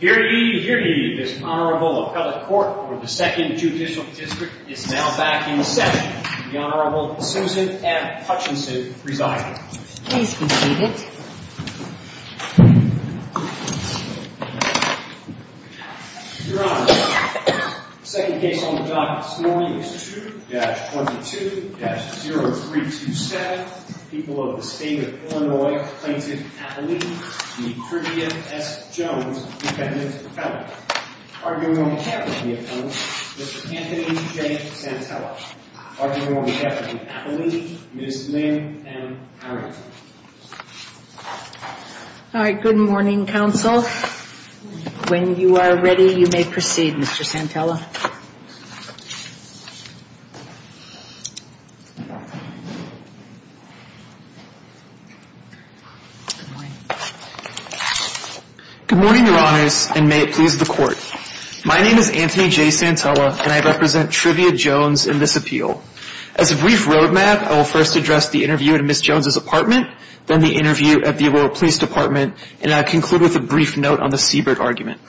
Hear ye, hear ye. This Honorable Appellate Court for the 2nd Judicial District is now back in session. The Honorable Susan F. Hutchinson presiding. Please be seated. Your Honor, the second case on the docket this morning is 2-22-0327. People of the State of Illinois, Plaintiff Appellee, the Trivia S. Jones Defendant Appellate. Arguing on behalf of the Appellate, Mr. Anthony J. Santella. Arguing on behalf of the Appellee, Ms. Lynn M. Harrington. All right, good morning, counsel. When you are ready, you may proceed, Mr. Santella. Good morning. Good morning, Your Honors, and may it please the Court. My name is Anthony J. Santella, and I represent Trivia Jones in this appeal. As a brief roadmap, I will first address the interview at Ms. Jones' apartment, then the interview at the Illinois Police Department, and I'll conclude with a brief note on the Siebert argument.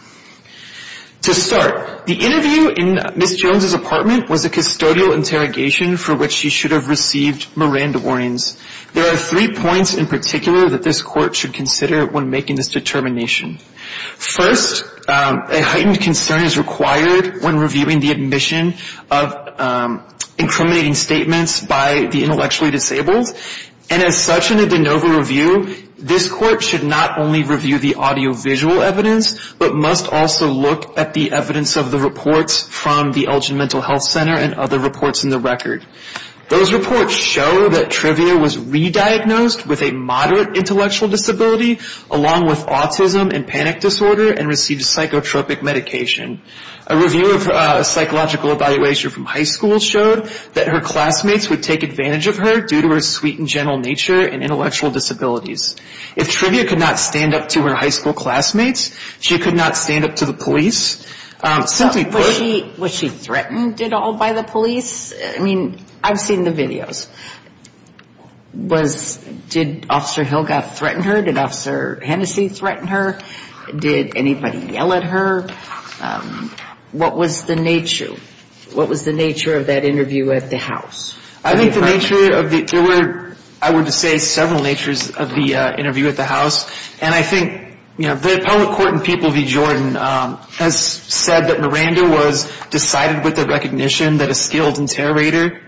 To start, the interview in Ms. Jones' apartment was a custodial interrogation for which she should have received Miranda warnings. There are three points in particular that this Court should consider when making this determination. First, a heightened concern is required when reviewing the admission of incriminating statements by the intellectually disabled. And as such, in a de novo review, this Court should not only review the audiovisual evidence, but must also look at the evidence of the reports from the Elgin Mental Health Center and other reports in the record. Those reports show that Trivia was re-diagnosed with a moderate intellectual disability, along with autism and panic disorder, and received psychotropic medication. A review of a psychological evaluation from high school showed that her classmates would take advantage of her due to her sweet and gentle nature and intellectual disabilities. If Trivia could not stand up to her high school classmates, she could not stand up to the police. Was she threatened at all by the police? I mean, I've seen the videos. Did Officer Hilga threaten her? Did Officer Hennessy threaten her? Did anybody yell at her? What was the nature of that interview at the house? I think the nature of the – there were, I would say, several natures of the interview at the house. And I think, you know, the appellate court in People v. Jordan has said that Miranda was decided with the recognition that a skilled interrogator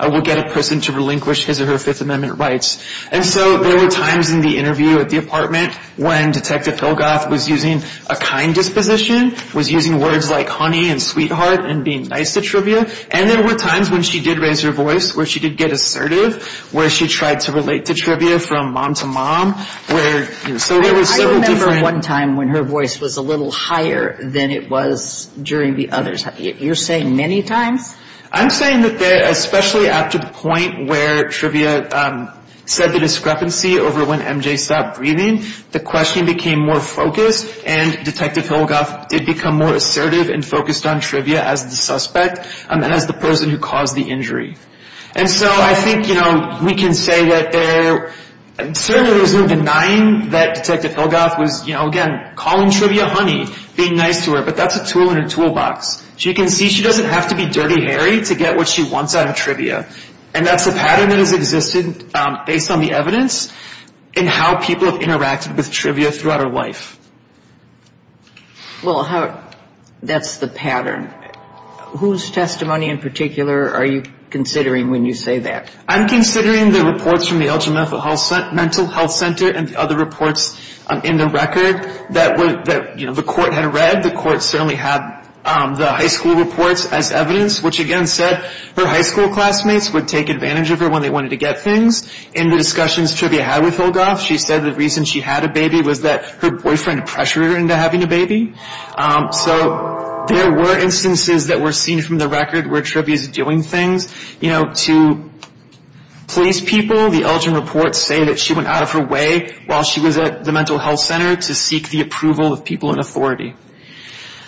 would get a person to relinquish his or her Fifth Amendment rights. And so there were times in the interview at the apartment when Detective Hilgoth was using a kind disposition, was using words like honey and sweetheart and being nice to Trivia. And there were times when she did raise her voice, where she did get assertive, where she tried to relate to Trivia from mom to mom. I remember one time when her voice was a little higher than it was during the others. You're saying many times? I'm saying that especially after the point where Trivia said the discrepancy over when MJ stopped breathing, the questioning became more focused and Detective Hilgoth did become more assertive and focused on Trivia as the suspect and as the person who caused the injury. And so I think, you know, we can say that there – certainly there was no denying that Detective Hilgoth was, you know, again, calling Trivia honey, being nice to her. But that's a tool in her toolbox. She can see she doesn't have to be Dirty Harry to get what she wants out of Trivia. And that's a pattern that has existed based on the evidence and how people have interacted with Trivia throughout her life. Well, how – that's the pattern. Whose testimony in particular are you considering when you say that? I'm considering the reports from the Algebra Mental Health Center and the other reports in the record that, you know, the court had read. The court certainly had the high school reports as evidence, which again said her high school classmates would take advantage of her when they wanted to get things. In the discussions Trivia had with Hilgoth, she said the reason she had a baby was that her boyfriend pressured her into having a baby. So there were instances that were seen from the record where Trivia is doing things, you know, to police people. The Elgin reports say that she went out of her way while she was at the mental health center to seek the approval of people in authority.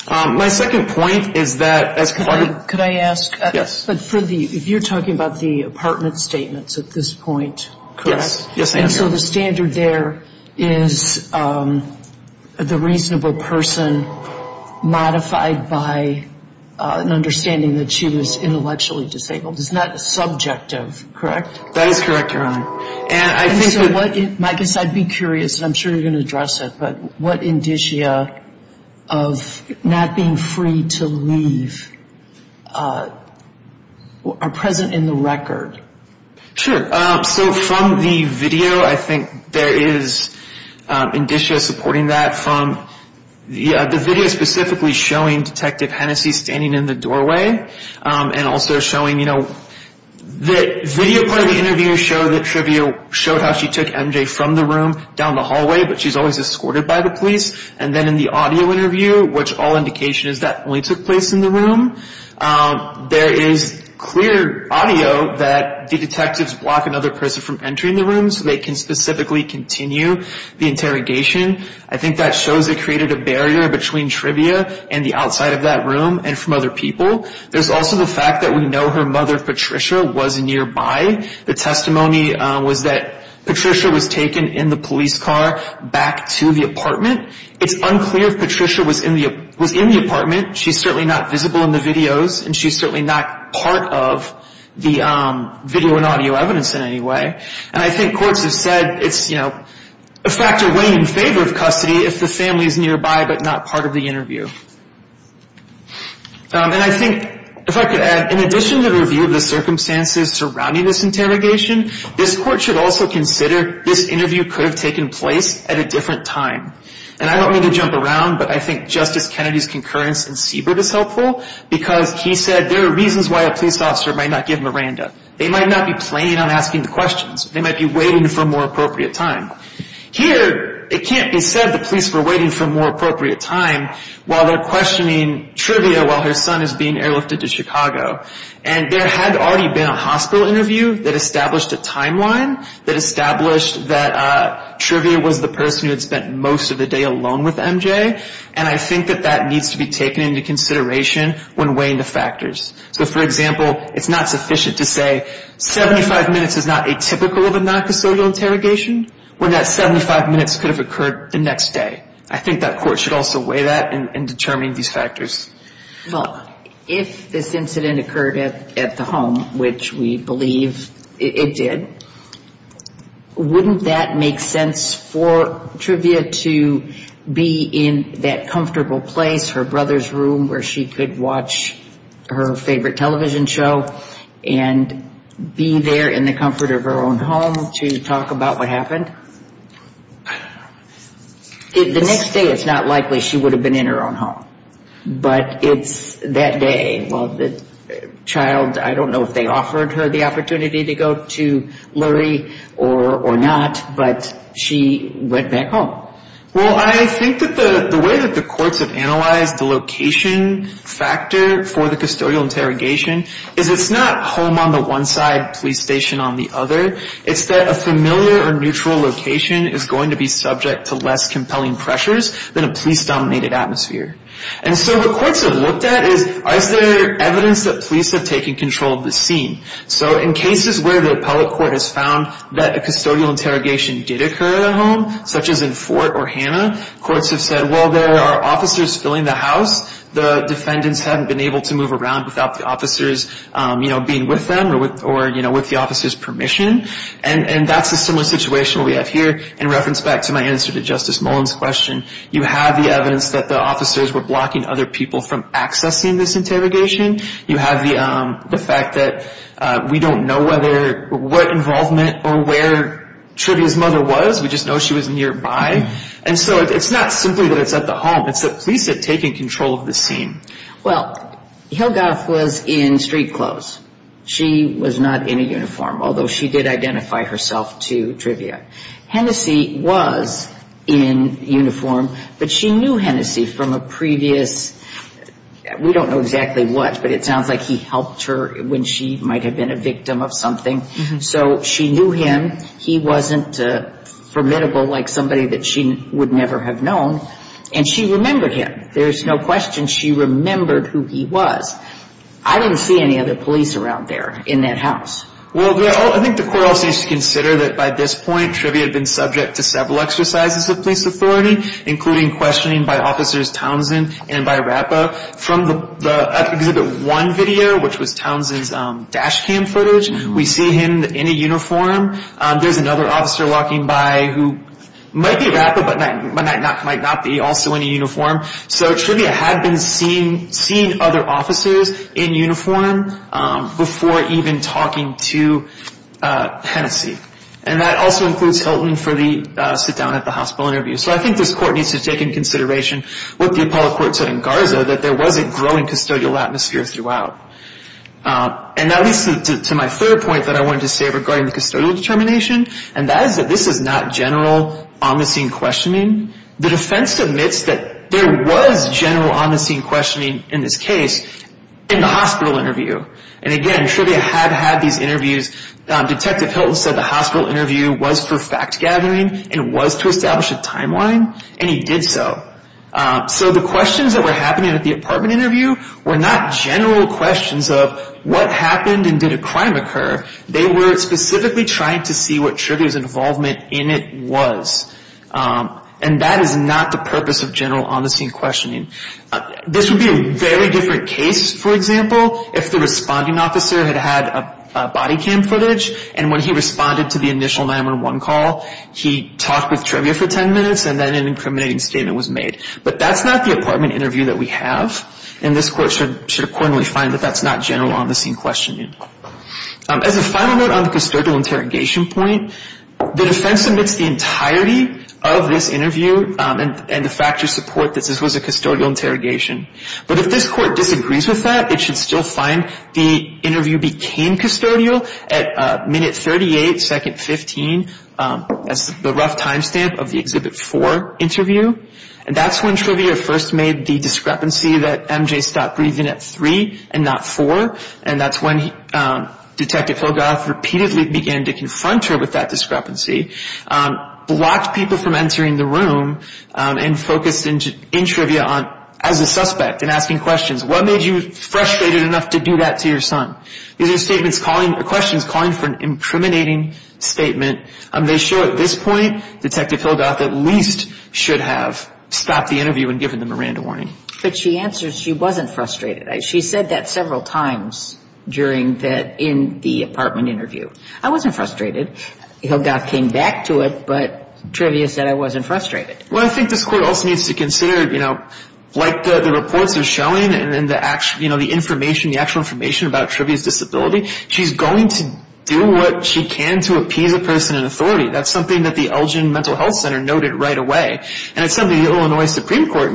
My second point is that as part of – Could I ask? Yes. But for the – if you're talking about the apartment statements at this point, correct? Yes. And so the standard there is the reasonable person modified by an understanding that she was intellectually disabled. It's not subjective, correct? That is correct, Your Honor. And so what – I guess I'd be curious, and I'm sure you're going to address it, but what indicia of not being free to leave are present in the record? Sure. So from the video, I think there is indicia supporting that from the video specifically showing Detective Hennessey standing in the doorway and also showing, you know, the video part of the interview showed that Trivia showed how she took MJ from the room down the hallway, but she's always escorted by the police. And then in the audio interview, which all indication is that only took place in the room, there is clear audio that the detectives block another person from entering the room so they can specifically continue the interrogation. I think that shows they created a barrier between Trivia and the outside of that room and from other people. There's also the fact that we know her mother Patricia was nearby. The testimony was that Patricia was taken in the police car back to the apartment. It's unclear if Patricia was in the apartment. She's certainly not visible in the videos, and she's certainly not part of the video and audio evidence in any way. And I think courts have said it's, you know, a factor way in favor of custody if the family is nearby but not part of the interview. And I think, if I could add, in addition to the review of the circumstances surrounding this interrogation, this court should also consider this interview could have taken place at a different time. And I don't mean to jump around, but I think Justice Kennedy's concurrence in Siebert is helpful because he said there are reasons why a police officer might not give Miranda. They might not be planning on asking the questions. They might be waiting for a more appropriate time. Here, it can't be said the police were waiting for a more appropriate time while they're questioning Trivia while her son is being airlifted to Chicago. And there had already been a hospital interview that established a timeline that established that Trivia was the person who had spent most of the day alone with MJ. And I think that that needs to be taken into consideration when weighing the factors. So, for example, it's not sufficient to say 75 minutes is not atypical of a non-custodial interrogation when that 75 minutes could have occurred the next day. I think that court should also weigh that and determine these factors. Well, if this incident occurred at the home, which we believe it did, wouldn't that make sense for Trivia to be in that comfortable place, her brother's room, where she could watch her favorite television show and be there in the comfort of her own home to talk about what happened? I don't know. The next day, it's not likely she would have been in her own home. But it's that day. Well, the child, I don't know if they offered her the opportunity to go to Lurie or not, but she went back home. Well, I think that the way that the courts have analyzed the location factor for the custodial interrogation is it's not home on the one side, police station on the other. It's that a familiar or neutral location is going to be subject to less compelling pressures than a police-dominated atmosphere. And so what courts have looked at is, is there evidence that police have taken control of the scene? So in cases where the appellate court has found that a custodial interrogation did occur at a home, such as in Fort or Hanna, courts have said, well, there are officers filling the house. The defendants haven't been able to move around without the officers being with them or with the officers' permission. And that's a similar situation we have here in reference back to my answer to Justice Mullen's question. You have the evidence that the officers were blocking other people from accessing this interrogation. You have the fact that we don't know what involvement or where Trivia's mother was. We just know she was nearby. And so it's not simply that it's at the home. It's that police have taken control of the scene. Well, Hilgarth was in street clothes. She was not in a uniform, although she did identify herself to Trivia. Hennessy was in uniform, but she knew Hennessy from a previous, we don't know exactly what, but it sounds like he helped her when she might have been a victim of something. So she knew him. He wasn't formidable like somebody that she would never have known. And she remembered him. There's no question she remembered who he was. I didn't see any other police around there in that house. Well, I think the court also needs to consider that by this point, Trivia had been subject to several exercises of police authority, including questioning by Officers Townsend and by Rapa. From the Exhibit 1 video, which was Townsend's dash cam footage, we see him in a uniform. There's another officer walking by who might be Rapa, but might not be also in a uniform. So Trivia had been seeing other officers in uniform before even talking to Hennessy. And that also includes Hilton for the sit-down at the hospital interview. So I think this court needs to take into consideration what the Apollo Court said in Garza, that there was a growing custodial atmosphere throughout. And that leads to my third point that I wanted to say regarding the custodial determination, and that is that this is not general omniscient questioning. The defense admits that there was general omniscient questioning in this case in the hospital interview. And again, Trivia had had these interviews. Detective Hilton said the hospital interview was for fact-gathering, and was to establish a timeline, and he did so. So the questions that were happening at the apartment interview were not general questions of what happened and did a crime occur. They were specifically trying to see what Trivia's involvement in it was. And that is not the purpose of general omniscient questioning. This would be a very different case, for example, if the responding officer had had body cam footage, and when he responded to the initial 911 call, he talked with Trivia for 10 minutes, and then an incriminating statement was made. But that's not the apartment interview that we have, and this court should accordingly find that that's not general omniscient questioning. As a final note on the custodial interrogation point, the defense admits the entirety of this interview, and the factors support that this was a custodial interrogation. But if this court disagrees with that, it should still find the interview became custodial at minute 38, second 15, as the rough time stamp of the Exhibit 4 interview. And that's when Trivia first made the discrepancy that MJ stopped breathing at 3 and not 4, and that's when Detective Hillgoth repeatedly began to confront her with that discrepancy, blocked people from entering the room, and focused in Trivia as a suspect and asking questions. What made you frustrated enough to do that to your son? These are questions calling for an incriminating statement. They show at this point Detective Hillgoth at least should have stopped the interview and given them a random warning. But she answers she wasn't frustrated. She said that several times during the apartment interview. I wasn't frustrated. Hillgoth came back to it, but Trivia said I wasn't frustrated. Well, I think this court also needs to consider, you know, like the reports are showing and the actual information about Trivia's disability, she's going to do what she can to appease a person in authority. That's something that the Elgin Mental Health Center noted right away, and it's something the Illinois Supreme Court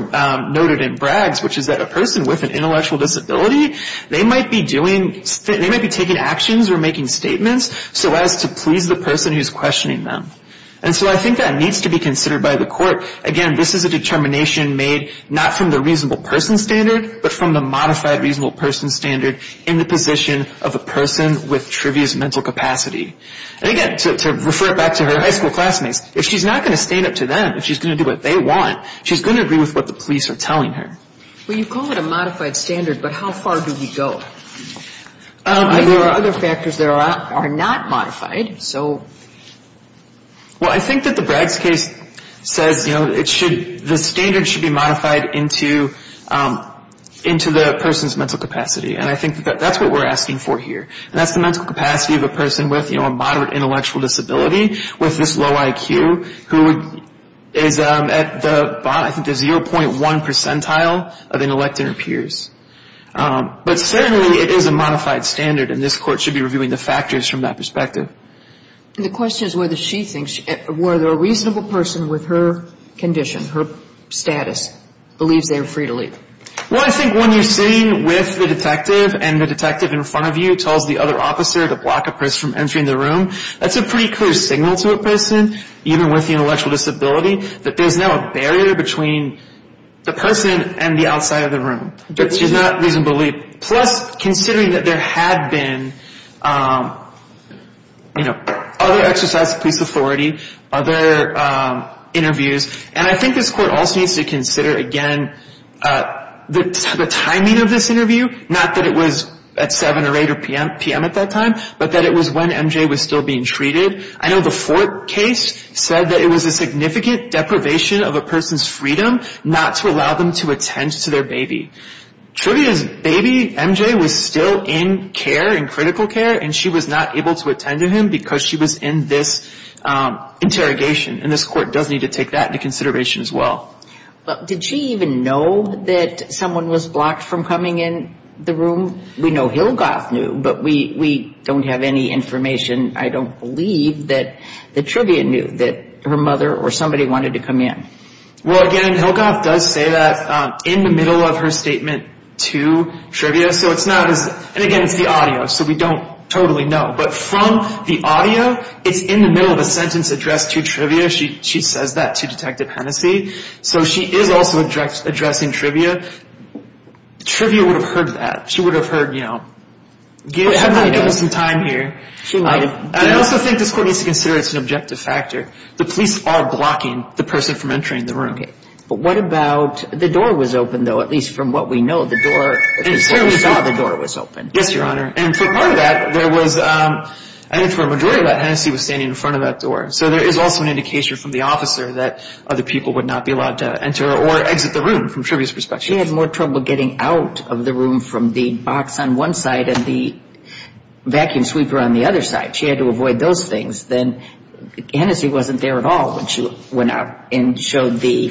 noted in Braggs, which is that a person with an intellectual disability, they might be taking actions or making statements so as to please the person who's questioning them. And so I think that needs to be considered by the court. Again, this is a determination made not from the reasonable person standard, but from the modified reasonable person standard in the position of a person with Trivia's mental capacity. And again, to refer it back to her high school classmates, if she's not going to stand up to them, if she's going to do what they want, she's going to agree with what the police are telling her. Well, you call it a modified standard, but how far do we go? There are other factors that are not modified, so. Well, I think that the Braggs case says, you know, the standard should be modified into the person's mental capacity, and I think that that's what we're asking for here. And that's the mental capacity of a person with, you know, a moderate intellectual disability with this low IQ who is at the 0.1 percentile of intellectual peers. But certainly it is a modified standard, and this court should be reviewing the factors from that perspective. The question is whether she thinks, whether a reasonable person with her condition, her status, believes they are free to leave. Well, I think when you're sitting with the detective and the detective in front of you tells the other officer to block a person from entering the room, that's a pretty clear signal to a person, even with the intellectual disability, that there's now a barrier between the person and the outside of the room. That she's not reasonably, plus considering that there had been, you know, other exercises of police authority, other interviews, and I think this court also needs to consider, again, the timing of this interview, not that it was at 7 or 8 p.m. at that time, but that it was when MJ was still being treated. I know the Fort case said that it was a significant deprivation of a person's freedom not to allow them to attend to their baby. Trivia is, baby MJ was still in care, in critical care, and she was not able to attend to him because she was in this interrogation, and this court does need to take that into consideration as well. Well, did she even know that someone was blocked from coming in the room? We know Hilgoth knew, but we don't have any information, I don't believe, that Trivia knew that her mother or somebody wanted to come in. Well, again, Hilgoth does say that in the middle of her statement to Trivia, so it's not as, and again, it's the audio, so we don't totally know, but from the audio, it's in the middle of a sentence addressed to Trivia. She says that to Detective Hennessey, so she is also addressing Trivia. Trivia would have heard that. She would have heard, you know, give us some time here. She might have. I also think this court needs to consider it's an objective factor. The police are blocking the person from entering the room. Okay. But what about, the door was open, though, at least from what we know. The door, we saw the door was open. Yes, Your Honor. And for part of that, there was, I think for a majority of that, Hennessey was standing in front of that door, so there is also an indication from the officer that other people would not be allowed to enter or exit the room from Trivia's perspective. She had more trouble getting out of the room from the box on one side and the vacuum sweeper on the other side. She had to avoid those things. Then Hennessey wasn't there at all when she went out and showed the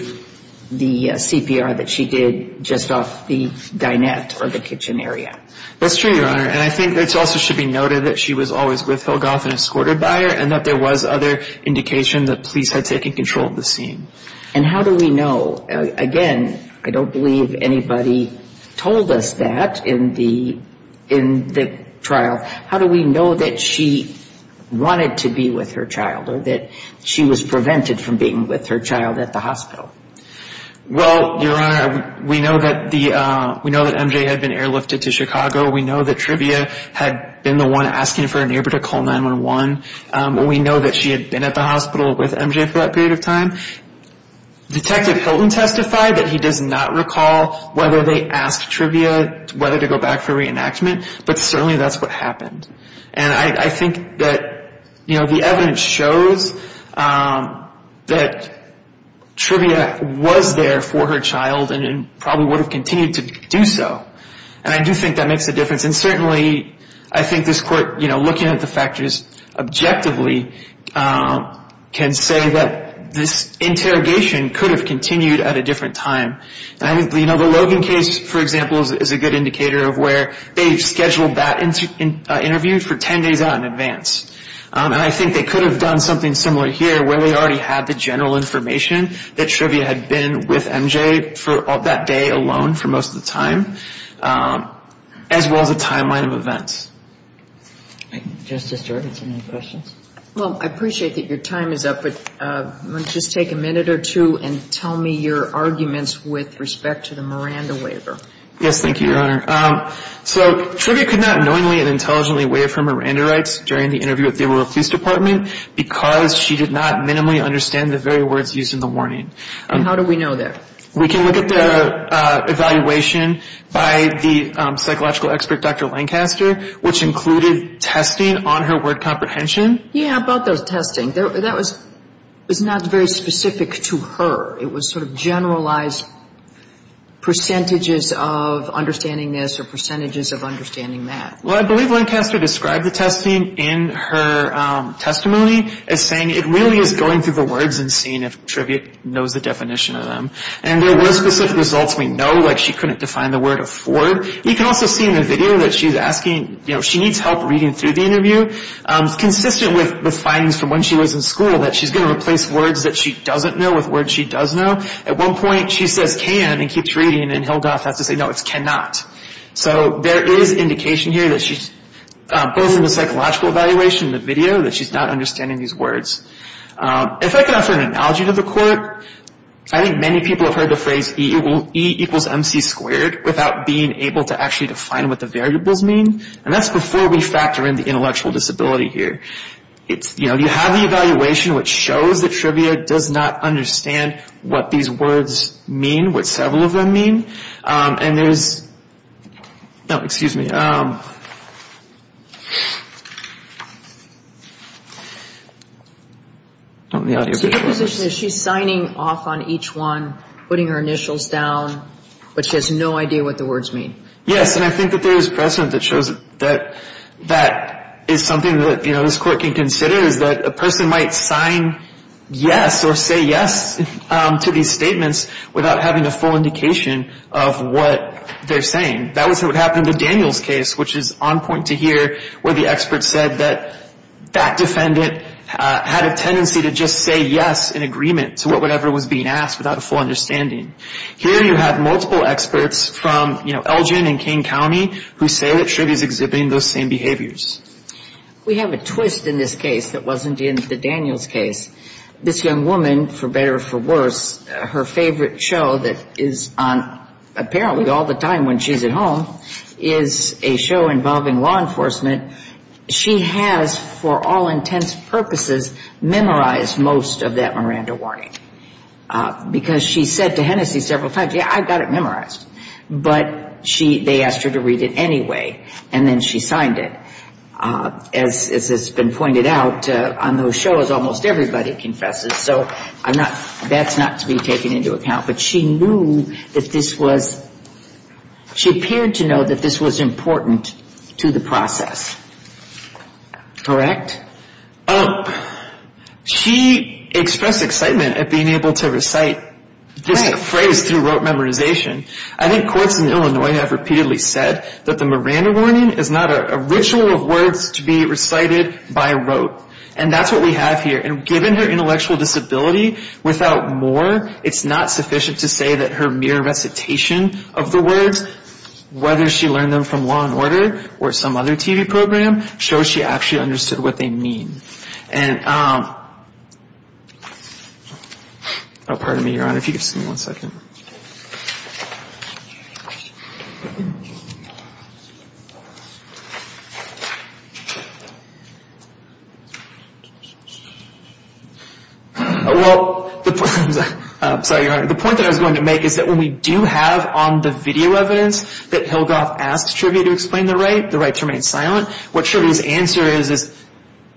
CPR that she did just off the dinette or the kitchen area. That's true, Your Honor, and I think it also should be noted that she was always with Hillgoth and escorted by her and that there was other indication that police had taken control of the scene. And how do we know? Again, I don't believe anybody told us that in the trial. How do we know that she wanted to be with her child or that she was prevented from being with her child at the hospital? Well, Your Honor, we know that MJ had been airlifted to Chicago. We know that Trivia had been the one asking for a neighbor to call 911. We know that she had been at the hospital with MJ for that period of time. Detective Hilton testified that he does not recall whether they asked Trivia whether to go back for reenactment, but certainly that's what happened. I think that the evidence shows that Trivia was there for her child and probably would have continued to do so, and I do think that makes a difference. And certainly I think this court, looking at the factors objectively, can say that this interrogation could have continued at a different time. The Logan case, for example, is a good indicator of where they've scheduled that interview for 10 days out in advance. And I think they could have done something similar here where they already had the general information that Trivia had been with MJ for that day alone for most of the time, as well as a timeline of events. Justice Durden, do you have any questions? Well, I appreciate that your time is up, but I'm going to just take a minute or two and tell me your arguments with respect to the Miranda waiver. Yes, thank you, Your Honor. So Trivia could not knowingly and intelligently waive her Miranda rights during the interview with the Arroyo Police Department because she did not minimally understand the very words used in the warning. And how do we know that? We can look at the evaluation by the psychological expert, Dr. Lancaster, which included testing on her word comprehension. Yeah, about those testing, that was not very specific to her. It was sort of generalized percentages of understanding this or percentages of understanding that. Well, I believe Lancaster described the testing in her testimony as saying it really is going through the words and seeing if Trivia knows the definition of them. And there were specific results. We know, like, she couldn't define the word afford. You can also see in the video that she's asking, you know, she needs help reading through the interview. It's consistent with the findings from when she was in school that she's going to replace words that she doesn't know with words she does know. At one point, she says can and keeps reading, and Hildoth has to say, no, it's cannot. So there is indication here that she's, both in the psychological evaluation and the video, that she's not understanding these words. If I can offer an analogy to the court, I think many people have heard the phrase E equals MC squared without being able to actually define what the variables mean. And that's before we factor in the intellectual disability here. You know, you have the evaluation which shows that Trivia does not understand what these words mean, what several of them mean. And there's, no, excuse me. The audio is a bit worse. So your position is she's signing off on each one, putting her initials down, but she has no idea what the words mean? Yes, and I think that there is precedent that shows that that is something that, you know, this court can consider is that a person might sign yes or say yes to these statements without having a full indication of what they're saying. That was what happened in the Daniels case, which is on point to here where the expert said that that defendant had a tendency to just say yes in agreement to whatever was being asked without a full understanding. Here you have multiple experts from, you know, Elgin and Kane County who say that Trivia is exhibiting those same behaviors. We have a twist in this case that wasn't in the Daniels case. This young woman, for better or for worse, her favorite show that is on apparently all the time when she's at home is a show involving law enforcement. She has, for all intents and purposes, memorized most of that Miranda warning because she said to Hennessey several times, yeah, I've got it memorized. But they asked her to read it anyway, and then she signed it. As has been pointed out, on those shows almost everybody confesses, so that's not to be taken into account. But she knew that this was – she appeared to know that this was important to the process. Correct? She expressed excitement at being able to recite this phrase through rote memorization. I think courts in Illinois have repeatedly said that the Miranda warning is not a ritual of words to be recited by rote, and that's what we have here. And given her intellectual disability, without more, it's not sufficient to say that her mere recitation of the words, whether she learned them from Law & Order or some other TV program, shows she actually understood what they mean. And – oh, pardon me, Your Honor. If you could just give me one second. Well, I'm sorry, Your Honor. The point that I was going to make is that when we do have on the video evidence that Hilgoff asks Trivia to explain the rite, the rite remains silent. What Trivia's answer is is,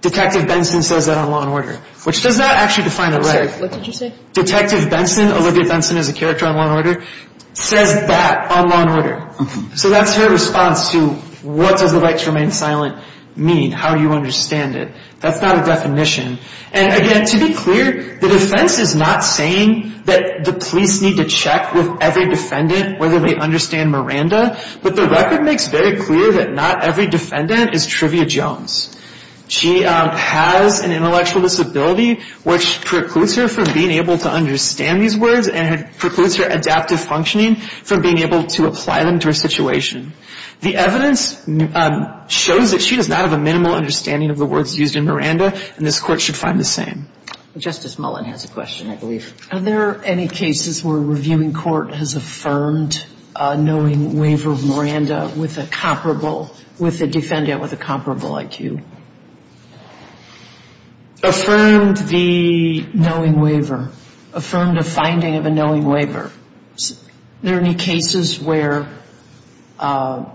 Detective Benson says that on Law & Order, which does not actually define the rite. I'm sorry, what did you say? Detective Benson, Olivia Benson is a character on Law & Order, says that on Law & Order. So that's her response to what does the rite remain silent mean, how you understand it. That's not a definition. And again, to be clear, the defense is not saying that the police need to check with every defendant whether they understand Miranda, but the record makes very clear that not every defendant is Trivia Jones. She has an intellectual disability which precludes her from being able to understand these words and precludes her adaptive functioning from being able to apply them to her situation. The evidence shows that she does not have a minimal understanding of the words used in Miranda, and this Court should find the same. Justice Mullen has a question, I believe. Are there any cases where a reviewing court has affirmed a knowing waiver of Miranda with a comparable, with a defendant with a comparable IQ? Affirmed the knowing waiver. Affirmed a finding of a knowing waiver. Are there any cases where courts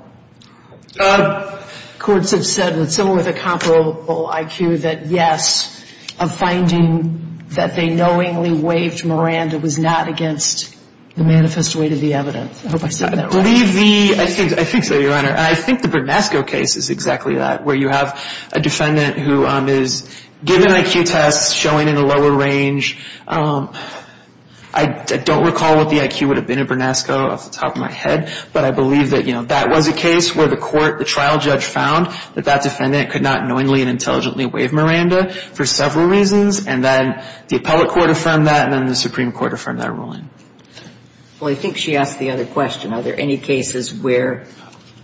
have said that someone with a comparable IQ, that yes, a finding that they knowingly waived Miranda was not against the manifest weight of the evidence? I hope I said that right. I believe the, I think so, Your Honor. I think the Brunesco case is exactly that, where you have a defendant who is given IQ tests, showing in a lower range. I don't recall what the IQ would have been in Brunesco off the top of my head, but I believe that, you know, that was a case where the trial judge found that that defendant could not knowingly and intelligently waive Miranda for several reasons, and then the appellate court affirmed that, and then the Supreme Court affirmed that ruling. Well, I think she asked the other question. Are there any cases where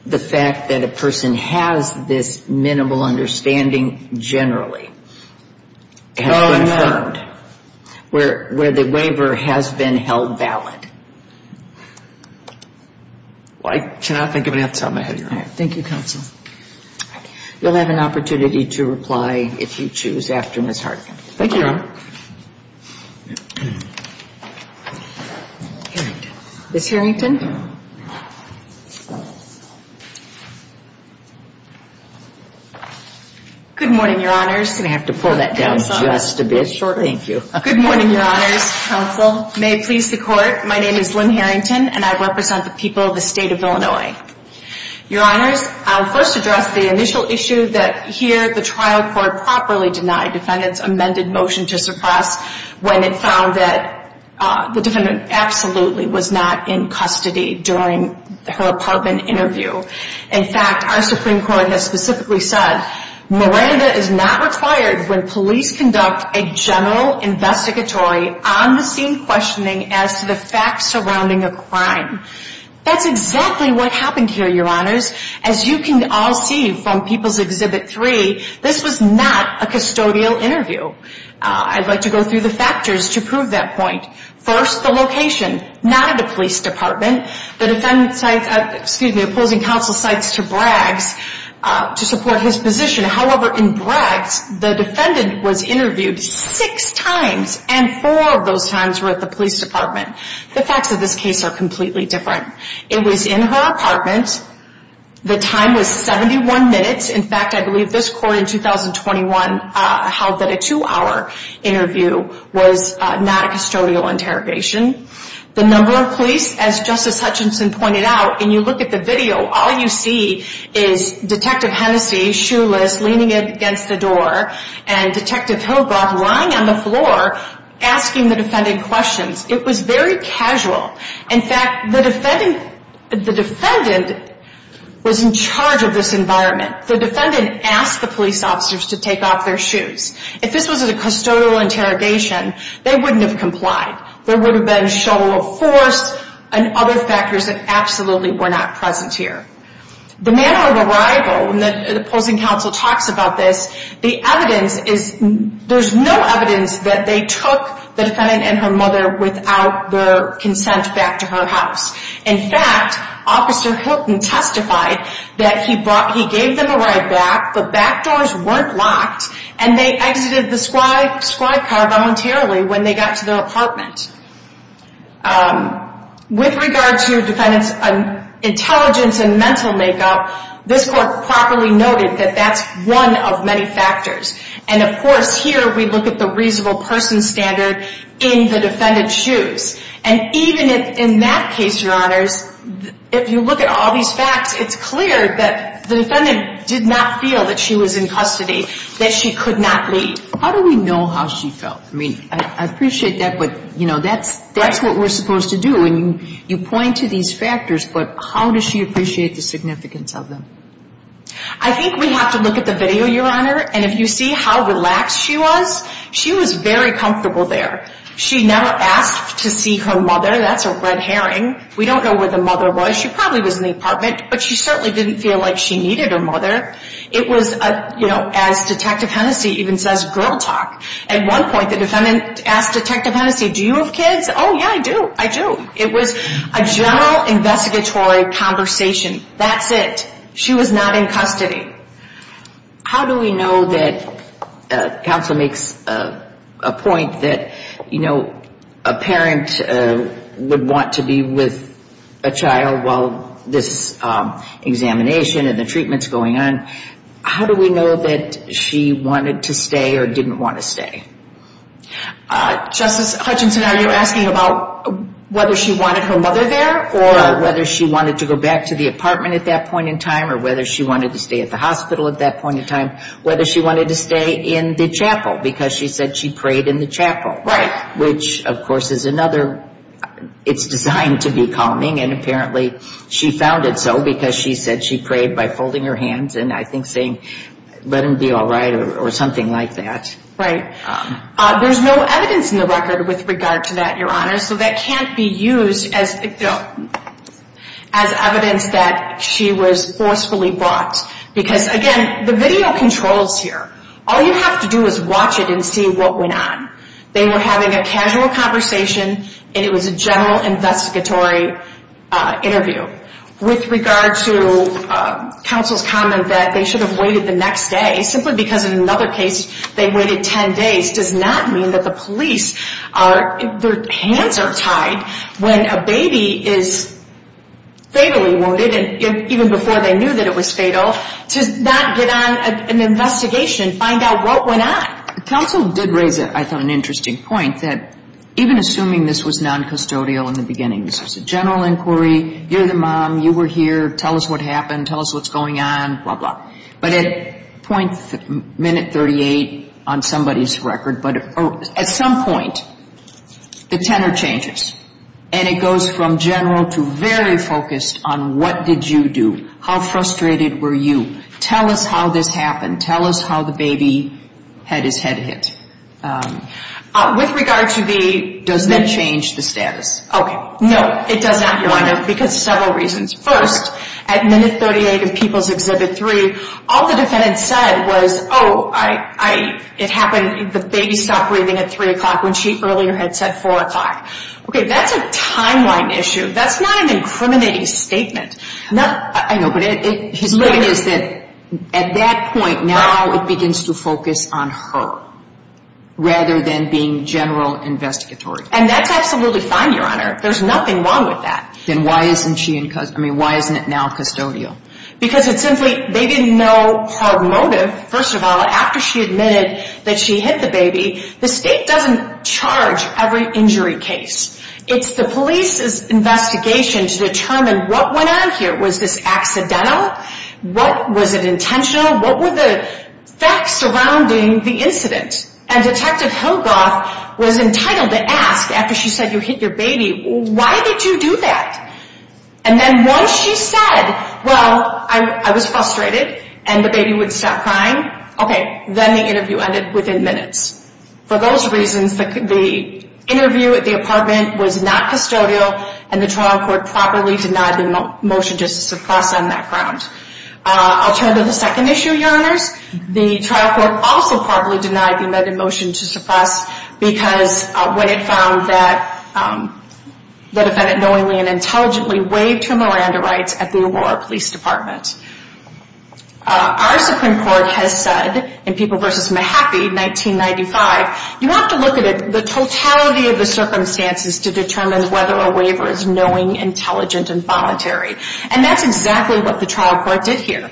the fact that a person has this minimal understanding generally has been confirmed, where the waiver has been held valid? Well, I cannot think of any off the top of my head, Your Honor. Thank you, counsel. You'll have an opportunity to reply if you choose after Ms. Hartigan. Thank you, Your Honor. Ms. Harrington. Good morning, Your Honors. I'm going to have to pull that down just a bit shorter. Thank you. Good morning, Your Honors. Counsel, may it please the Court, my name is Lynn Harrington, and I represent the people of the State of Illinois. Your Honors, I'll first address the initial issue that, here, the trial court properly denied defendants' amended motion to suppress when it found that the defendant absolutely was not in custody during her apartment interview. In fact, our Supreme Court has specifically said, Miranda is not required when police conduct a general investigatory, on-the-scene questioning as to the facts surrounding a crime. That's exactly what happened here, Your Honors. As you can all see from People's Exhibit 3, this was not a custodial interview. I'd like to go through the factors to prove that point. First, the location, not at a police department. The defendant, excuse me, opposing counsel cites to Braggs to support his position. However, in Braggs, the defendant was interviewed six times, and four of those times were at the police department. The facts of this case are completely different. It was in her apartment. The time was 71 minutes. In fact, I believe this court in 2021 held that a two-hour interview was not a custodial interrogation. The number of police, as Justice Hutchinson pointed out, and you look at the video, all you see is Detective Hennessy, shoeless, leaning against a door, and Detective Hillgrove lying on the floor asking the defendant questions. It was very casual. In fact, the defendant was in charge of this environment. The defendant asked the police officers to take off their shoes. If this was a custodial interrogation, they wouldn't have complied. There would have been show of force and other factors that absolutely were not present here. The manner of arrival, and the opposing counsel talks about this, the evidence is there's no evidence that they took the defendant and her mother without the consent back to her house. In fact, Officer Hilton testified that he gave them a ride back, the back doors weren't locked, and they exited the squad car voluntarily when they got to their apartment. With regard to defendant's intelligence and mental makeup, this Court properly noted that that's one of many factors. And, of course, here we look at the reasonable person standard in the defendant's shoes. And even in that case, Your Honors, if you look at all these facts, it's clear that the defendant did not feel that she was in custody, that she could not leave. How do we know how she felt? I mean, I appreciate that, but, you know, that's what we're supposed to do. And you point to these factors, but how does she appreciate the significance of them? I think we have to look at the video, Your Honor, and if you see how relaxed she was, she was very comfortable there. She never asked to see her mother. That's a red herring. We don't know where the mother was. She probably was in the apartment, but she certainly didn't feel like she needed her mother. It was, you know, as Detective Hennessey even says, girl talk. At one point, the defendant asked Detective Hennessey, do you have kids? Oh, yeah, I do, I do. It was a general investigatory conversation. That's it. She was not in custody. How do we know that counsel makes a point that, you know, a parent would want to be with a child while this examination and the treatment's going on? How do we know that she wanted to stay or didn't want to stay? Justice Hutchinson, are you asking about whether she wanted her mother there or whether she wanted to go back to the apartment at that point in time or whether she wanted to stay at the hospital at that point in time, whether she wanted to stay in the chapel because she said she prayed in the chapel. Right. Which, of course, is another – it's designed to be calming, and apparently she found it so because she said she prayed by folding her hands and I think saying, let him be all right or something like that. Right. There's no evidence in the record with regard to that, Your Honor, so that can't be used as evidence that she was forcefully brought. Because, again, the video controls here. All you have to do is watch it and see what went on. They were having a casual conversation, and it was a general investigatory interview. With regard to counsel's comment that they should have waited the next day, simply because in another case they waited ten days, does not mean that the police are – their hands are tied when a baby is fatally wounded, even before they knew that it was fatal, to not get on an investigation, find out what went on. Counsel did raise, I thought, an interesting point, that even assuming this was noncustodial in the beginning, this was a general inquiry, you're the mom, you were here, tell us what happened, tell us what's going on, blah, blah. But at minute 38 on somebody's record, but at some point, the tenor changes, and it goes from general to very focused on what did you do, how frustrated were you, tell us how this happened, tell us how the baby had his head hit. With regard to the – Does that change the status? Okay, no, it does not, Your Honor, because several reasons. First, at minute 38 in People's Exhibit 3, all the defendant said was, oh, it happened, the baby stopped breathing at 3 o'clock when she earlier had said 4 o'clock. Okay, that's a timeline issue, that's not an incriminating statement. I know, but his point is that at that point, now it begins to focus on her, rather than being general investigatory. And that's absolutely fine, Your Honor, there's nothing wrong with that. Then why isn't she – I mean, why isn't it now custodial? Because it's simply they didn't know her motive, first of all, after she admitted that she hit the baby. The state doesn't charge every injury case. It's the police's investigation to determine what went on here. Was this accidental? Was it intentional? What were the facts surrounding the incident? And Detective Hillgroth was entitled to ask, after she said you hit your baby, why did you do that? And then once she said, well, I was frustrated, and the baby would stop crying, okay, then the interview ended within minutes. For those reasons, the interview at the apartment was not custodial, and the trial court properly denied the motion just to suppress on that ground. I'll turn to the second issue, Your Honors. The trial court also properly denied the amended motion to suppress because when it found that the defendant knowingly and intelligently waived her Miranda rights at the O'Rourke Police Department. Our Supreme Court has said in People v. Mahaffey, 1995, you have to look at the totality of the circumstances to determine whether a waiver is knowing, intelligent, and voluntary. And that's exactly what the trial court did here.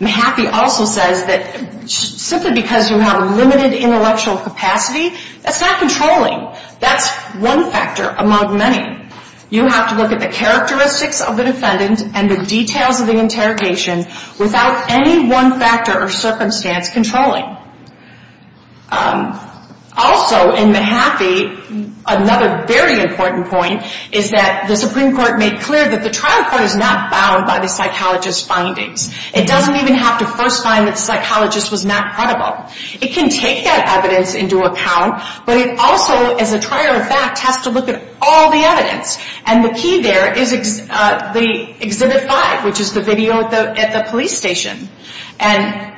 Mahaffey also says that simply because you have a limited intellectual capacity, that's not controlling. That's one factor among many. You have to look at the characteristics of the defendant and the details of the interrogation without any one factor or circumstance controlling. Also, in Mahaffey, another very important point is that the Supreme Court made clear that the trial court is not bound by the psychologist's findings. It doesn't even have to first find that the psychologist was not credible. It can take that evidence into account, but it also, as a trial fact, has to look at all the evidence. And the key there is Exhibit 5, which is the video at the police station. And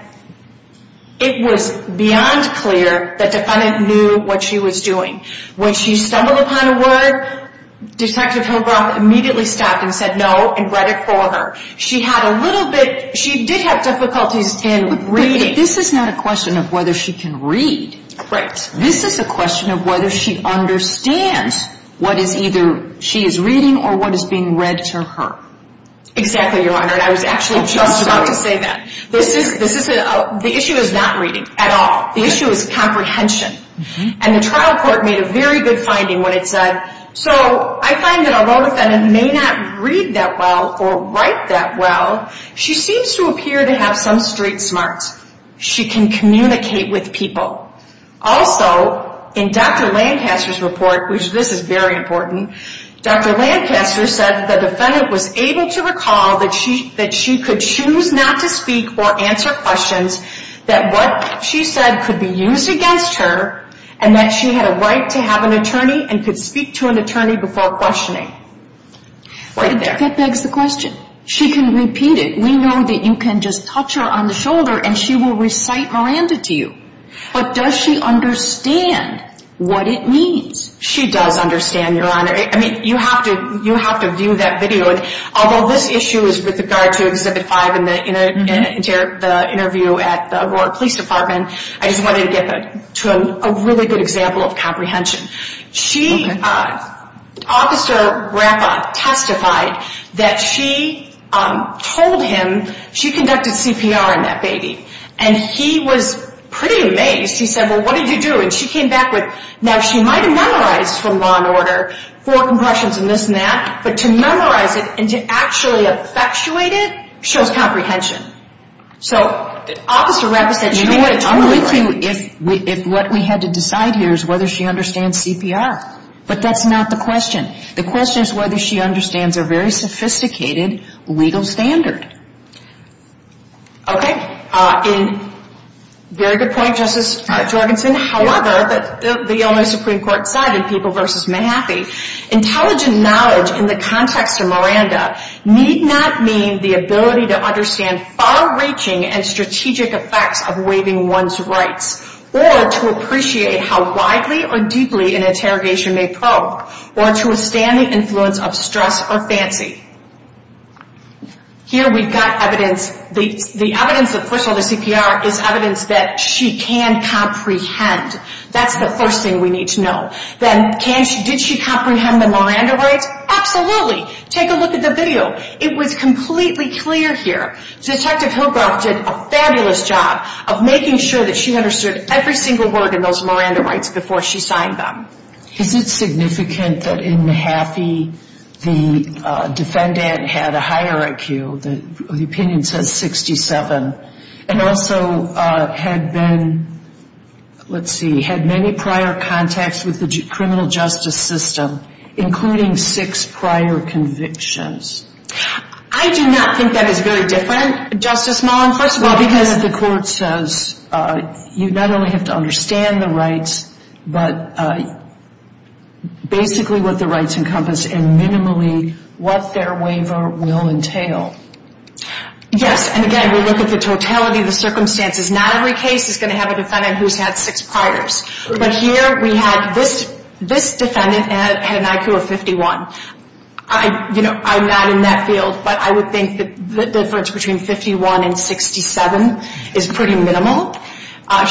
it was beyond clear that the defendant knew what she was doing. When she stumbled upon a word, Detective Hillbrock immediately stopped and said no and read it for her. She did have difficulties in reading. But this is not a question of whether she can read. Right. This is a question of whether she understands what is either she is reading or what is being read to her. Exactly, Your Honor, and I was actually just about to say that. The issue is not reading at all. The issue is comprehension. And the trial court made a very good finding when it said, so I find that although the defendant may not read that well or write that well, she seems to appear to have some street smarts. She can communicate with people. Also, in Dr. Lancaster's report, which this is very important, Dr. Lancaster said the defendant was able to recall that she could choose not to speak or answer questions that what she said could be used against her and that she had a right to have an attorney and could speak to an attorney before questioning. Right there. That begs the question. She can repeat it. We know that you can just touch her on the shoulder and she will recite Miranda to you. But does she understand what it means? She does understand, Your Honor. I mean, you have to view that video. Although this issue is with regard to Exhibit 5 in the interview at the Aurora Police Department, I just wanted to get to a really good example of comprehension. Okay. Officer Rapa testified that she told him she conducted CPR on that baby, and he was pretty amazed. He said, well, what did you do? And she came back with, now she might have memorized from Law and Order four compressions and this and that, but to memorize it and to actually effectuate it shows comprehension. So Officer Rapa said she knew what it truly meant. I'm with you if what we had to decide here is whether she understands CPR. But that's not the question. The question is whether she understands a very sophisticated legal standard. Okay. Very good point, Justice Jorgensen. However, the Illinois Supreme Court side in People v. Mahaffey, intelligent knowledge in the context of Miranda need not mean the ability to understand far-reaching and strategic effects of waiving one's rights, or to appreciate how widely or deeply an interrogation may probe, or to withstand the influence of stress or fancy. Here we've got evidence. The evidence of first-order CPR is evidence that she can comprehend. That's the first thing we need to know. Then did she comprehend the Miranda rights? Absolutely. Take a look at the video. It was completely clear here. Detective Hillgroth did a fabulous job of making sure that she understood every single word in those Miranda rights before she signed them. Is it significant that in Mahaffey the defendant had a higher IQ? The opinion says 67. And also had been, let's see, had many prior contacts with the criminal justice system, including six prior convictions. I do not think that is very different, Justice Mullen. First of all, because the court says you not only have to understand the rights, but basically what the rights encompass and minimally what their waiver will entail. Yes, and again, we look at the totality of the circumstances. Not every case is going to have a defendant who's had six priors. But here we had this defendant had an IQ of 51. I'm not in that field, but I would think that the difference between 51 and 67 is pretty minimal.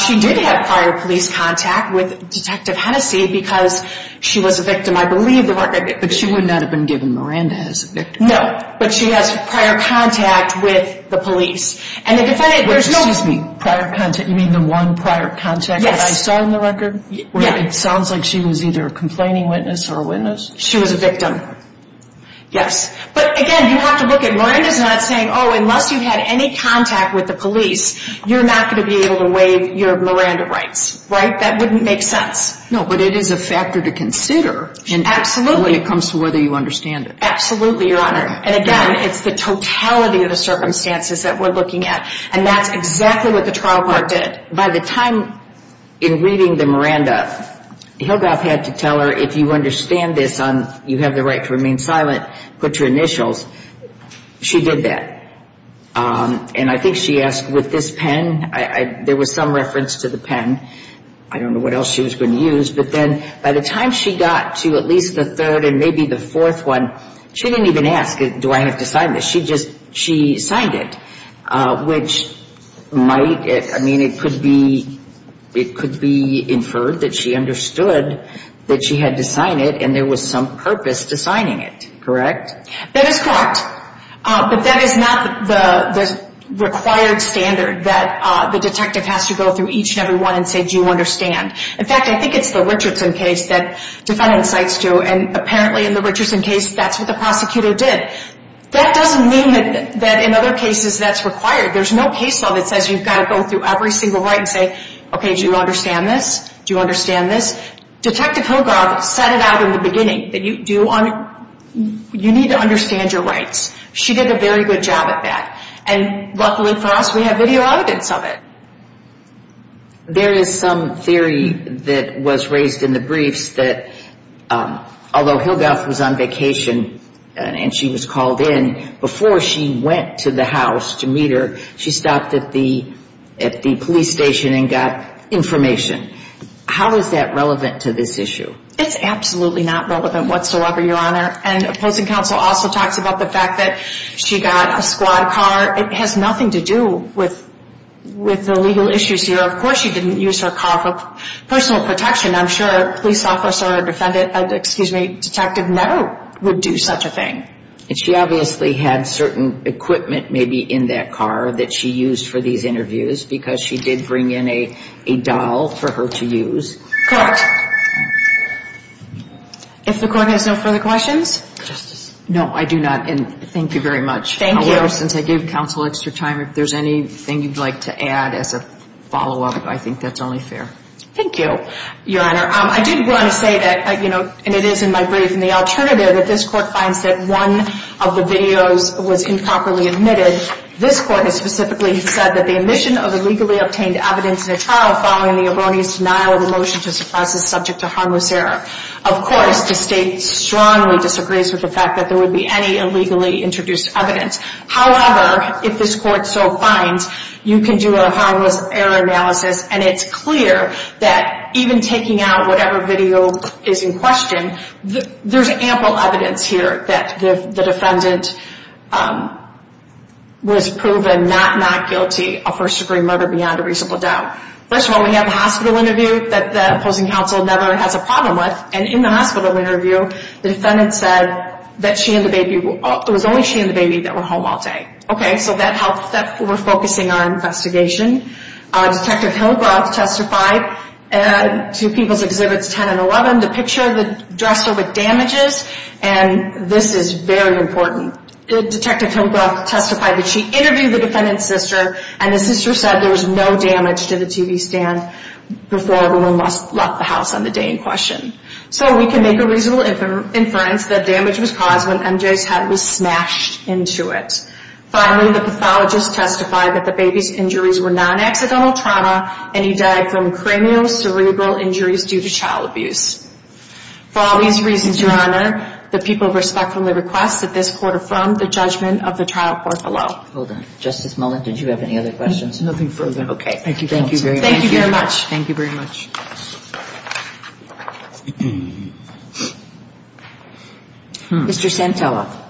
She did have prior police contact with Detective Hennessey because she was a victim, I believe. But she would not have been given Miranda as a victim. No, but she has prior contact with the police. Excuse me, prior contact? You mean the one prior contact that I saw in the record? Yes. It sounds like she was either a complaining witness or a witness. She was a victim. Yes. But again, you have to look at Miranda's not saying, oh, unless you had any contact with the police, you're not going to be able to waive your Miranda rights. Right? That wouldn't make sense. No, but it is a factor to consider when it comes to whether you understand it. Absolutely, Your Honor. And, again, it's the totality of the circumstances that we're looking at. And that's exactly what the trial court did. By the time in reading the Miranda, Hildreth had to tell her if you understand this, you have the right to remain silent, put your initials. She did that. And I think she asked with this pen, there was some reference to the pen. I don't know what else she was going to use. But then by the time she got to at least the third and maybe the fourth one, she didn't even ask, do I have to sign this? She just signed it, which might, I mean, it could be inferred that she understood that she had to sign it and there was some purpose to signing it. Correct? That is correct. But that is not the required standard that the detective has to go through each and every one and say, do you understand? In fact, I think it's the Richardson case that defendant cites to, and apparently in the Richardson case, that's what the prosecutor did. That doesn't mean that in other cases that's required. There's no case law that says you've got to go through every single right and say, okay, do you understand this? Do you understand this? Detective Hildreth set it out in the beginning that you need to understand your rights. She did a very good job at that. And luckily for us, we have video evidence of it. There is some theory that was raised in the briefs that although Hildreth was on vacation and she was called in, before she went to the house to meet her, she stopped at the police station and got information. How is that relevant to this issue? It's absolutely not relevant whatsoever, Your Honor. And opposing counsel also talks about the fact that she got a squad car. It has nothing to do with the legal issues here. Of course she didn't use her car for personal protection. I'm sure a police officer or a defendant, excuse me, detective never would do such a thing. And she obviously had certain equipment maybe in that car that she used for these interviews because she did bring in a doll for her to use. Correct. If the Court has no further questions. Justice. No, I do not. And thank you very much. Thank you. Since I gave counsel extra time, if there's anything you'd like to add as a follow-up, I think that's only fair. Thank you, Your Honor. I did want to say that, you know, and it is in my brief, in the alternative that this Court finds that one of the videos was improperly admitted. This Court has specifically said that the omission of illegally obtained evidence in a trial following the erroneous denial of the motion to suppress is subject to harmless error. Of course, the State strongly disagrees with the fact that there would be any illegally introduced evidence. However, if this Court so finds, you can do a harmless error analysis, and it's clear that even taking out whatever video is in question, there's ample evidence here that the defendant was proven not not guilty of first-degree murder beyond a reasonable doubt. First of all, we have a hospital interview that the opposing counsel never has a problem with, and in the hospital interview, the defendant said that she and the baby, it was only she and the baby that were home all day. Okay, so that helped that we're focusing on investigation. Detective Hillgroth testified to People's Exhibits 10 and 11, the picture of the dresser with damages, and this is very important. Detective Hillgroth testified that she interviewed the defendant's sister, and the sister said there was no damage to the TV stand before everyone left the house on the day in question. So we can make a reasonable inference that damage was caused when MJ's head was smashed into it. Finally, the pathologist testified that the baby's injuries were non-accidental trauma, and he died from cranial cerebral injuries due to child abuse. For all these reasons, Your Honor, the people respectfully request that this Court affirm the judgment of the trial court below. Thank you very much. Thank you. All right. Justice Malone, did you have any other questions? Nothing further. Okay. Thank you very much. Thank you very much. Thank you very much. Mr. Santella.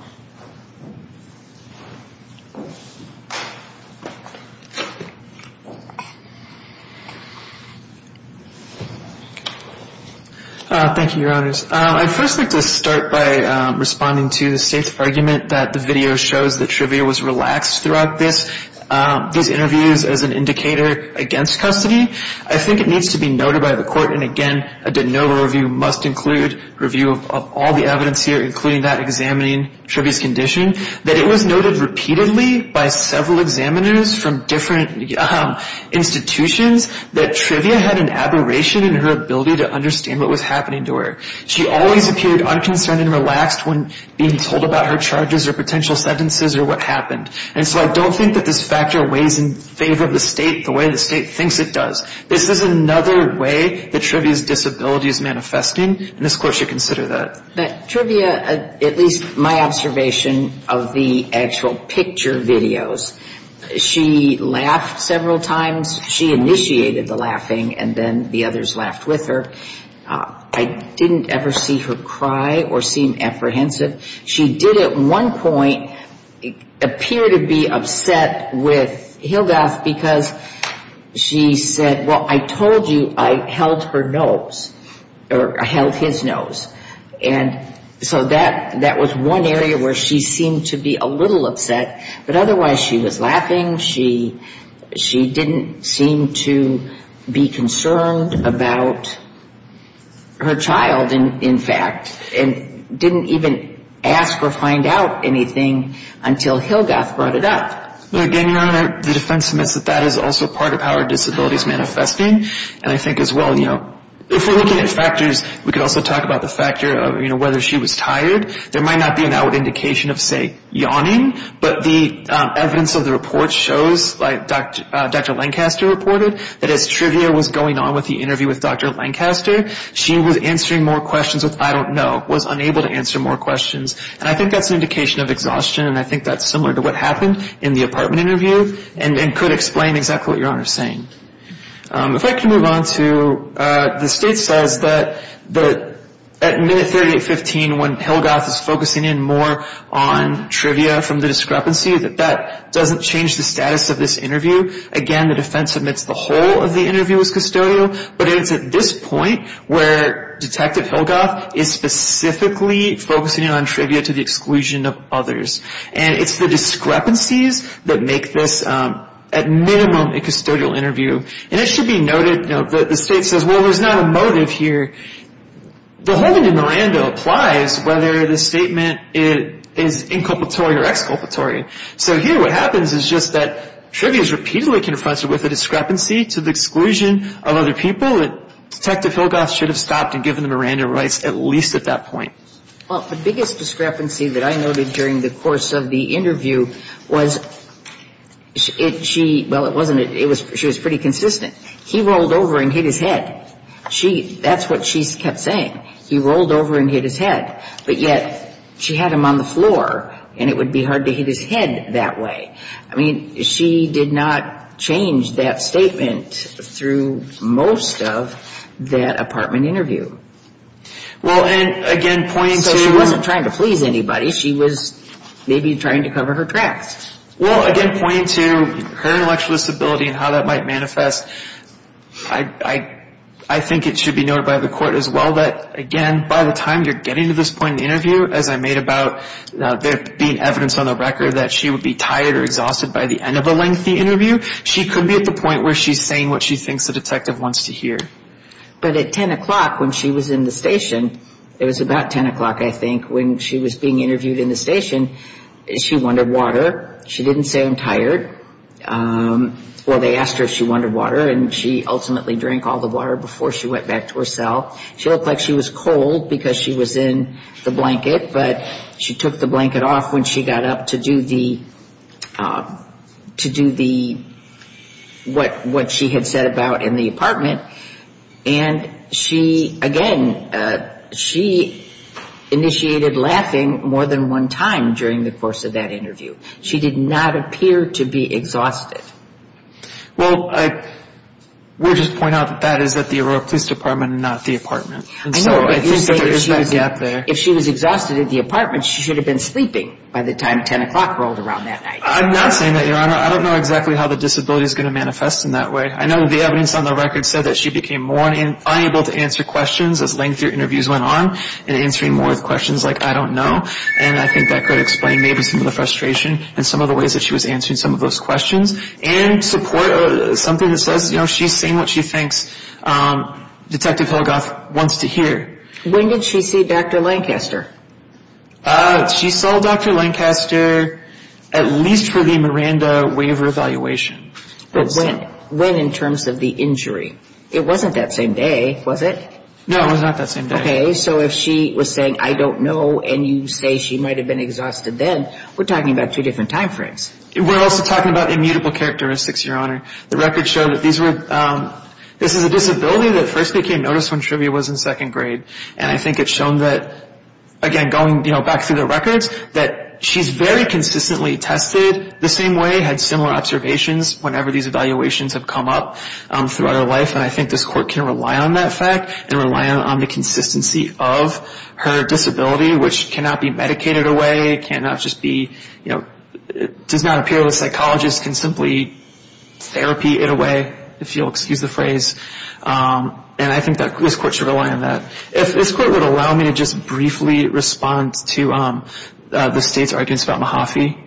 Thank you, Your Honors. I'd first like to start by responding to the state's argument that the video shows that trivia was relaxed throughout this, these interviews as an indicator against custody. I think it needs to be noted by the court, and again, a de novo review must include review of all the evidence here, including that examining trivia's condition, that it was noted repeatedly by several examiners from different institutions that trivia had an aberration in her ability to understand what was happening to her. She always appeared unconcerned and relaxed when being told about her charges or potential sentences or what happened. And so I don't think that this factor weighs in favor of the state the way the state thinks it does. This is another way that trivia's disability is manifesting, and this court should consider that. But trivia, at least my observation of the actual picture videos, she laughed several times. She initiated the laughing, and then the others laughed with her. I didn't ever see her cry or seem apprehensive. She did at one point appear to be upset with Hildoth because she said, well, I told you I held her nose, or I held his nose. And so that was one area where she seemed to be a little upset, but otherwise she was laughing. She didn't seem to be concerned about her child, in fact, and didn't even ask or find out anything until Hildoth brought it up. Again, Your Honor, the defense admits that that is also part of how her disability is manifesting, and I think as well, you know, if we're looking at factors, we could also talk about the factor of, you know, whether she was tired. There might not be an outward indication of, say, yawning, but the evidence of the report shows, like Dr. Lancaster reported, that as trivia was going on with the interview with Dr. Lancaster, she was answering more questions with, I don't know, was unable to answer more questions. And I think that's an indication of exhaustion, and I think that's similar to what happened in the apartment interview, and could explain exactly what Your Honor is saying. If I can move on to, the state says that at minute 3815, when Hildoth is focusing in more on trivia from the discrepancy, that that doesn't change the status of this interview. Again, the defense admits the whole of the interview was custodial, but it's at this point where Detective Hildoth is specifically focusing on trivia to the exclusion of others. And it should be noted, you know, that the state says, well, there's not a motive here. The whole thing in Miranda applies whether the statement is inculpatory or exculpatory. So here what happens is just that trivia is repeatedly confronted with a discrepancy to the exclusion of other people, and Detective Hildoth should have stopped and given the Miranda rights at least at that point. Well, the biggest discrepancy that I noted during the course of the interview was she, well, it wasn't, she was pretty consistent. He rolled over and hit his head. That's what she kept saying. He rolled over and hit his head. But yet she had him on the floor, and it would be hard to hit his head that way. I mean, she did not change that statement through most of that apartment interview. So she wasn't trying to please anybody. She was maybe trying to cover her tracks. Well, again, pointing to her intellectual disability and how that might manifest, I think it should be noted by the court as well that, again, by the time you're getting to this point in the interview, as I made about there being evidence on the record that she would be tired or exhausted by the end of a lengthy interview, she could be at the point where she's saying what she thinks the detective wants to hear. But at 10 o'clock when she was in the station, it was about 10 o'clock, I think, when she was being interviewed in the station, she wanted water. Well, they asked her if she wanted water, and she ultimately drank all the water before she went back to her cell. She looked like she was cold because she was in the blanket, but she took the blanket off when she got up to do the what she had said about in the apartment. And she, again, she initiated laughing more than one time during the course of that interview. She did not appear to be exhausted. Well, I would just point out that that is at the Aurora Police Department and not the apartment. If she was exhausted at the apartment, she should have been sleeping by the time 10 o'clock rolled around that night. I'm not saying that, Your Honor. I don't know exactly how the disability is going to manifest in that way. I know that the evidence on the record said that she became more unable to answer questions as lengthier interviews went on and answering more questions like, I don't know. And I think that could explain maybe some of the frustration and some of the ways that she was answering some of those questions and support something that says, you know, she's saying what she thinks Detective Hillegoff wants to hear. When did she see Dr. Lancaster? She saw Dr. Lancaster at least for the Miranda waiver evaluation. But when in terms of the injury? It wasn't that same day, was it? No, it was not that same day. Okay. So if she was saying, I don't know, and you say she might have been exhausted then, we're talking about two different time frames. We're also talking about immutable characteristics, Your Honor. The record showed that these were, this is a disability that first became noticed when trivia was in second grade. And I think it's shown that, again, going back through the records, that she's very consistently tested the same way, had similar observations whenever these evaluations have come up throughout her life. And I think this court can rely on that fact and rely on the consistency of her disability, which cannot be medicated away, cannot just be, you know, does not appear that a psychologist can simply, you know, therapy it away, if you'll excuse the phrase. And I think that this court should rely on that. If this court would allow me to just briefly respond to the State's arguments about Mahaffey,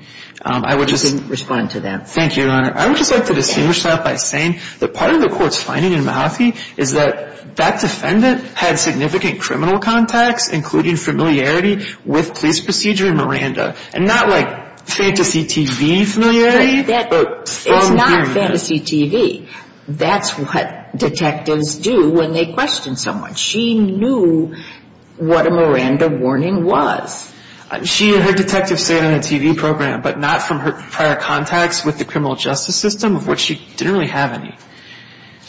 I would just... You can respond to them. Thank you, Your Honor. I would just like to distinguish that by saying that part of the court's finding in Mahaffey is that that defendant had significant criminal contacts, including familiarity with police procedure in Miranda. And not like fantasy TV familiarity, but... It's not fantasy TV. That's what detectives do when they question someone. She knew what a Miranda warning was. She and her detective stayed on the TV program, but not from her prior contacts with the criminal justice system, of which she didn't really have any.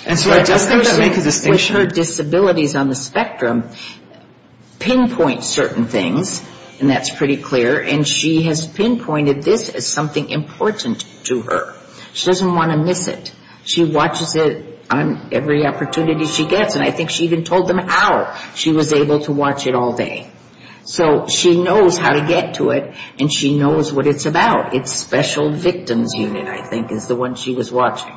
And so I just think that would make a distinction. And I think with her disabilities on the spectrum, pinpoint certain things, and that's pretty clear, and she has pinpointed this as something important to her. She doesn't want to miss it. She watches it on every opportunity she gets. And I think she even told them how she was able to watch it all day. So she knows how to get to it, and she knows what it's about. It's special victims unit, I think, is the one she was watching.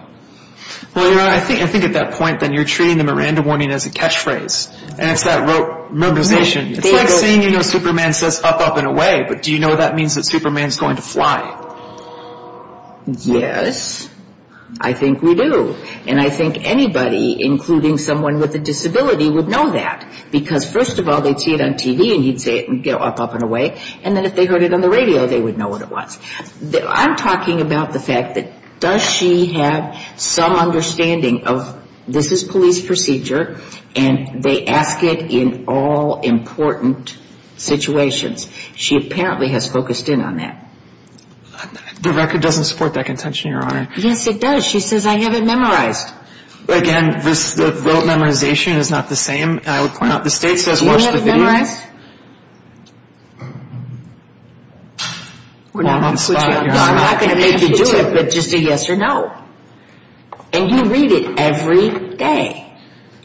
Well, you know, I think at that point, then, you're treating the Miranda warning as a catchphrase, and it's that memorization. It's like saying, you know, Superman says, up, up, and away, but do you know that means that Superman's going to fly? Yes, I think we do. And I think anybody, including someone with a disability, would know that. Because, first of all, they'd see it on TV, and you'd say, up, up, and away, and then if they heard it on the radio, they would know what it was. I'm talking about the fact that does she have some understanding of, this is police procedure, and they ask it in all important situations. She apparently has focused in on that. The record doesn't support that contention, Your Honor. Yes, it does. She says, I have it memorized. Again, the rote memorization is not the same. I would point out the state says watch the video. Do you have it memorized? No, I'm not going to make you do it, but just a yes or no. And you read it every day.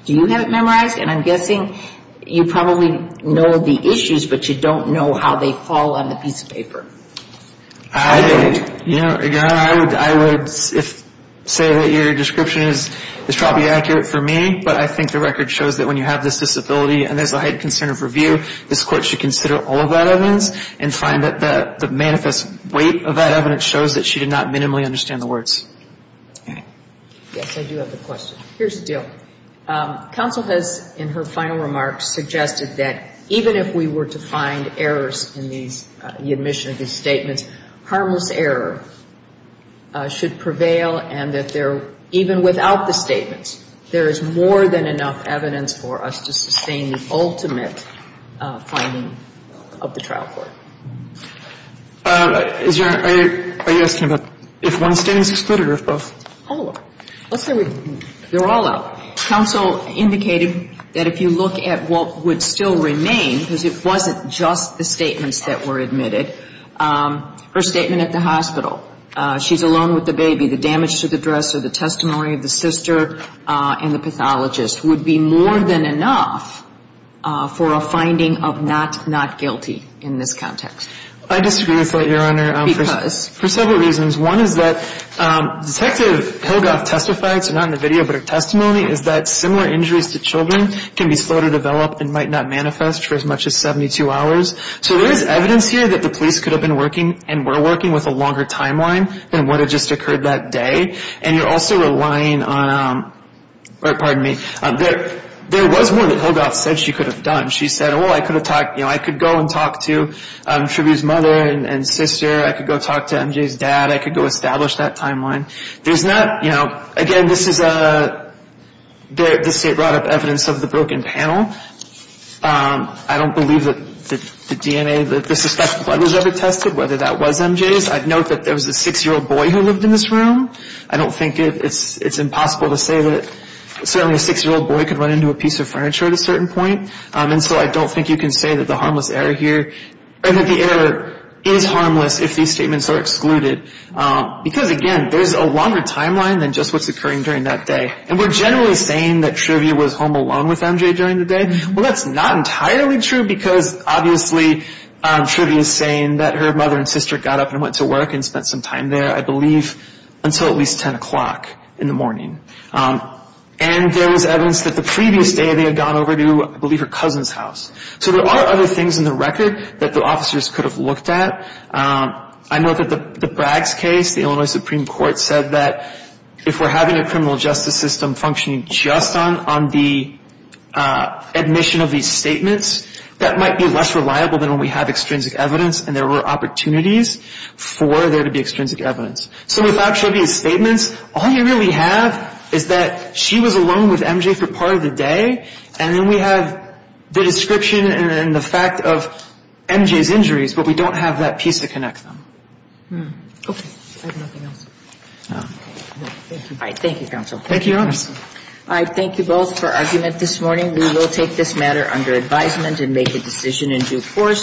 Do you have it memorized? And I'm guessing you probably know the issues, but you don't know how they fall on the piece of paper. I would say that your description is probably accurate for me, but I think the record shows that when you have this disability, and there's a high concern of review, this Court should consider all of that evidence and find that the manifest weight of that evidence shows that she did not minimally understand the words. Yes, I do have a question. Here's the deal. Counsel has, in her final remarks, suggested that even if we were to find errors in the admission of these statements, harmless error should prevail and that there, even without the statements, there is more than enough evidence for us to sustain the ultimate finding of the trial court. Are you asking about if one statement is excluded or if both? They're all out. Counsel indicated that if you look at what would still remain, because it wasn't just the statements that were admitted, her statement at the hospital, she's alone with the baby, the damage to the dresser, the testimony of the sister and the pathologist would be more than enough for a finding of not not guilty in this context. I disagree with that, Your Honor, for several reasons. One is that Detective Hillgoth testified, so not in the video, but her testimony is that similar injuries to children can be slow to develop and might not manifest for as much as 72 hours. So there is evidence here that the police could have been working and were working with a longer timeline than what had just occurred that day. And you're also relying on, pardon me, there was a there was more that Hillgoth said she could have done. She said, oh, I could have talked, you know, I could go and talk to Truby's mother and sister. I could go talk to MJ's dad. I could go establish that timeline. There's not, you know, again, this is a the state brought up evidence of the broken panel. I don't believe that the DNA, the suspected blood was ever tested, whether that was MJ's. I'd note that there was a six-year-old boy who lived in this room. I don't think it's impossible to say that certainly a six-year-old boy could run into a piece of furniture at a certain point. And so I don't think you can say that the harmless error here or that the error is harmless if these statements are excluded. Because, again, there's a longer timeline than just what's occurring during that day. And we're generally saying that Truby was home alone with MJ during the day. Well, that's not entirely true, because obviously Truby is saying that her mother and sister got up and went to work and spent some time there, I believe, until at least 10 o'clock in the morning. And there was evidence that the previous day they had gone over to, I believe, her cousin's house. So there are other things in the record that the officers could have looked at. I note that the Braggs case, the Illinois Supreme Court said that if we're having a criminal justice system functioning just on the admission of these statements, that might be less reliable than when we have extrinsic evidence and there were opportunities for there to be extrinsic evidence. So without Truby's statements, all you really have is that she was alone with MJ for part of the day. And then we have the description and the fact of MJ's injuries, but we don't have that piece to connect them. Okay. I have nothing else. Thank you. All right. Thank you, counsel. Thank you, Your Honor. All right. Thank you both for argument this morning. We will take this matter under advisement and make a decision in due course.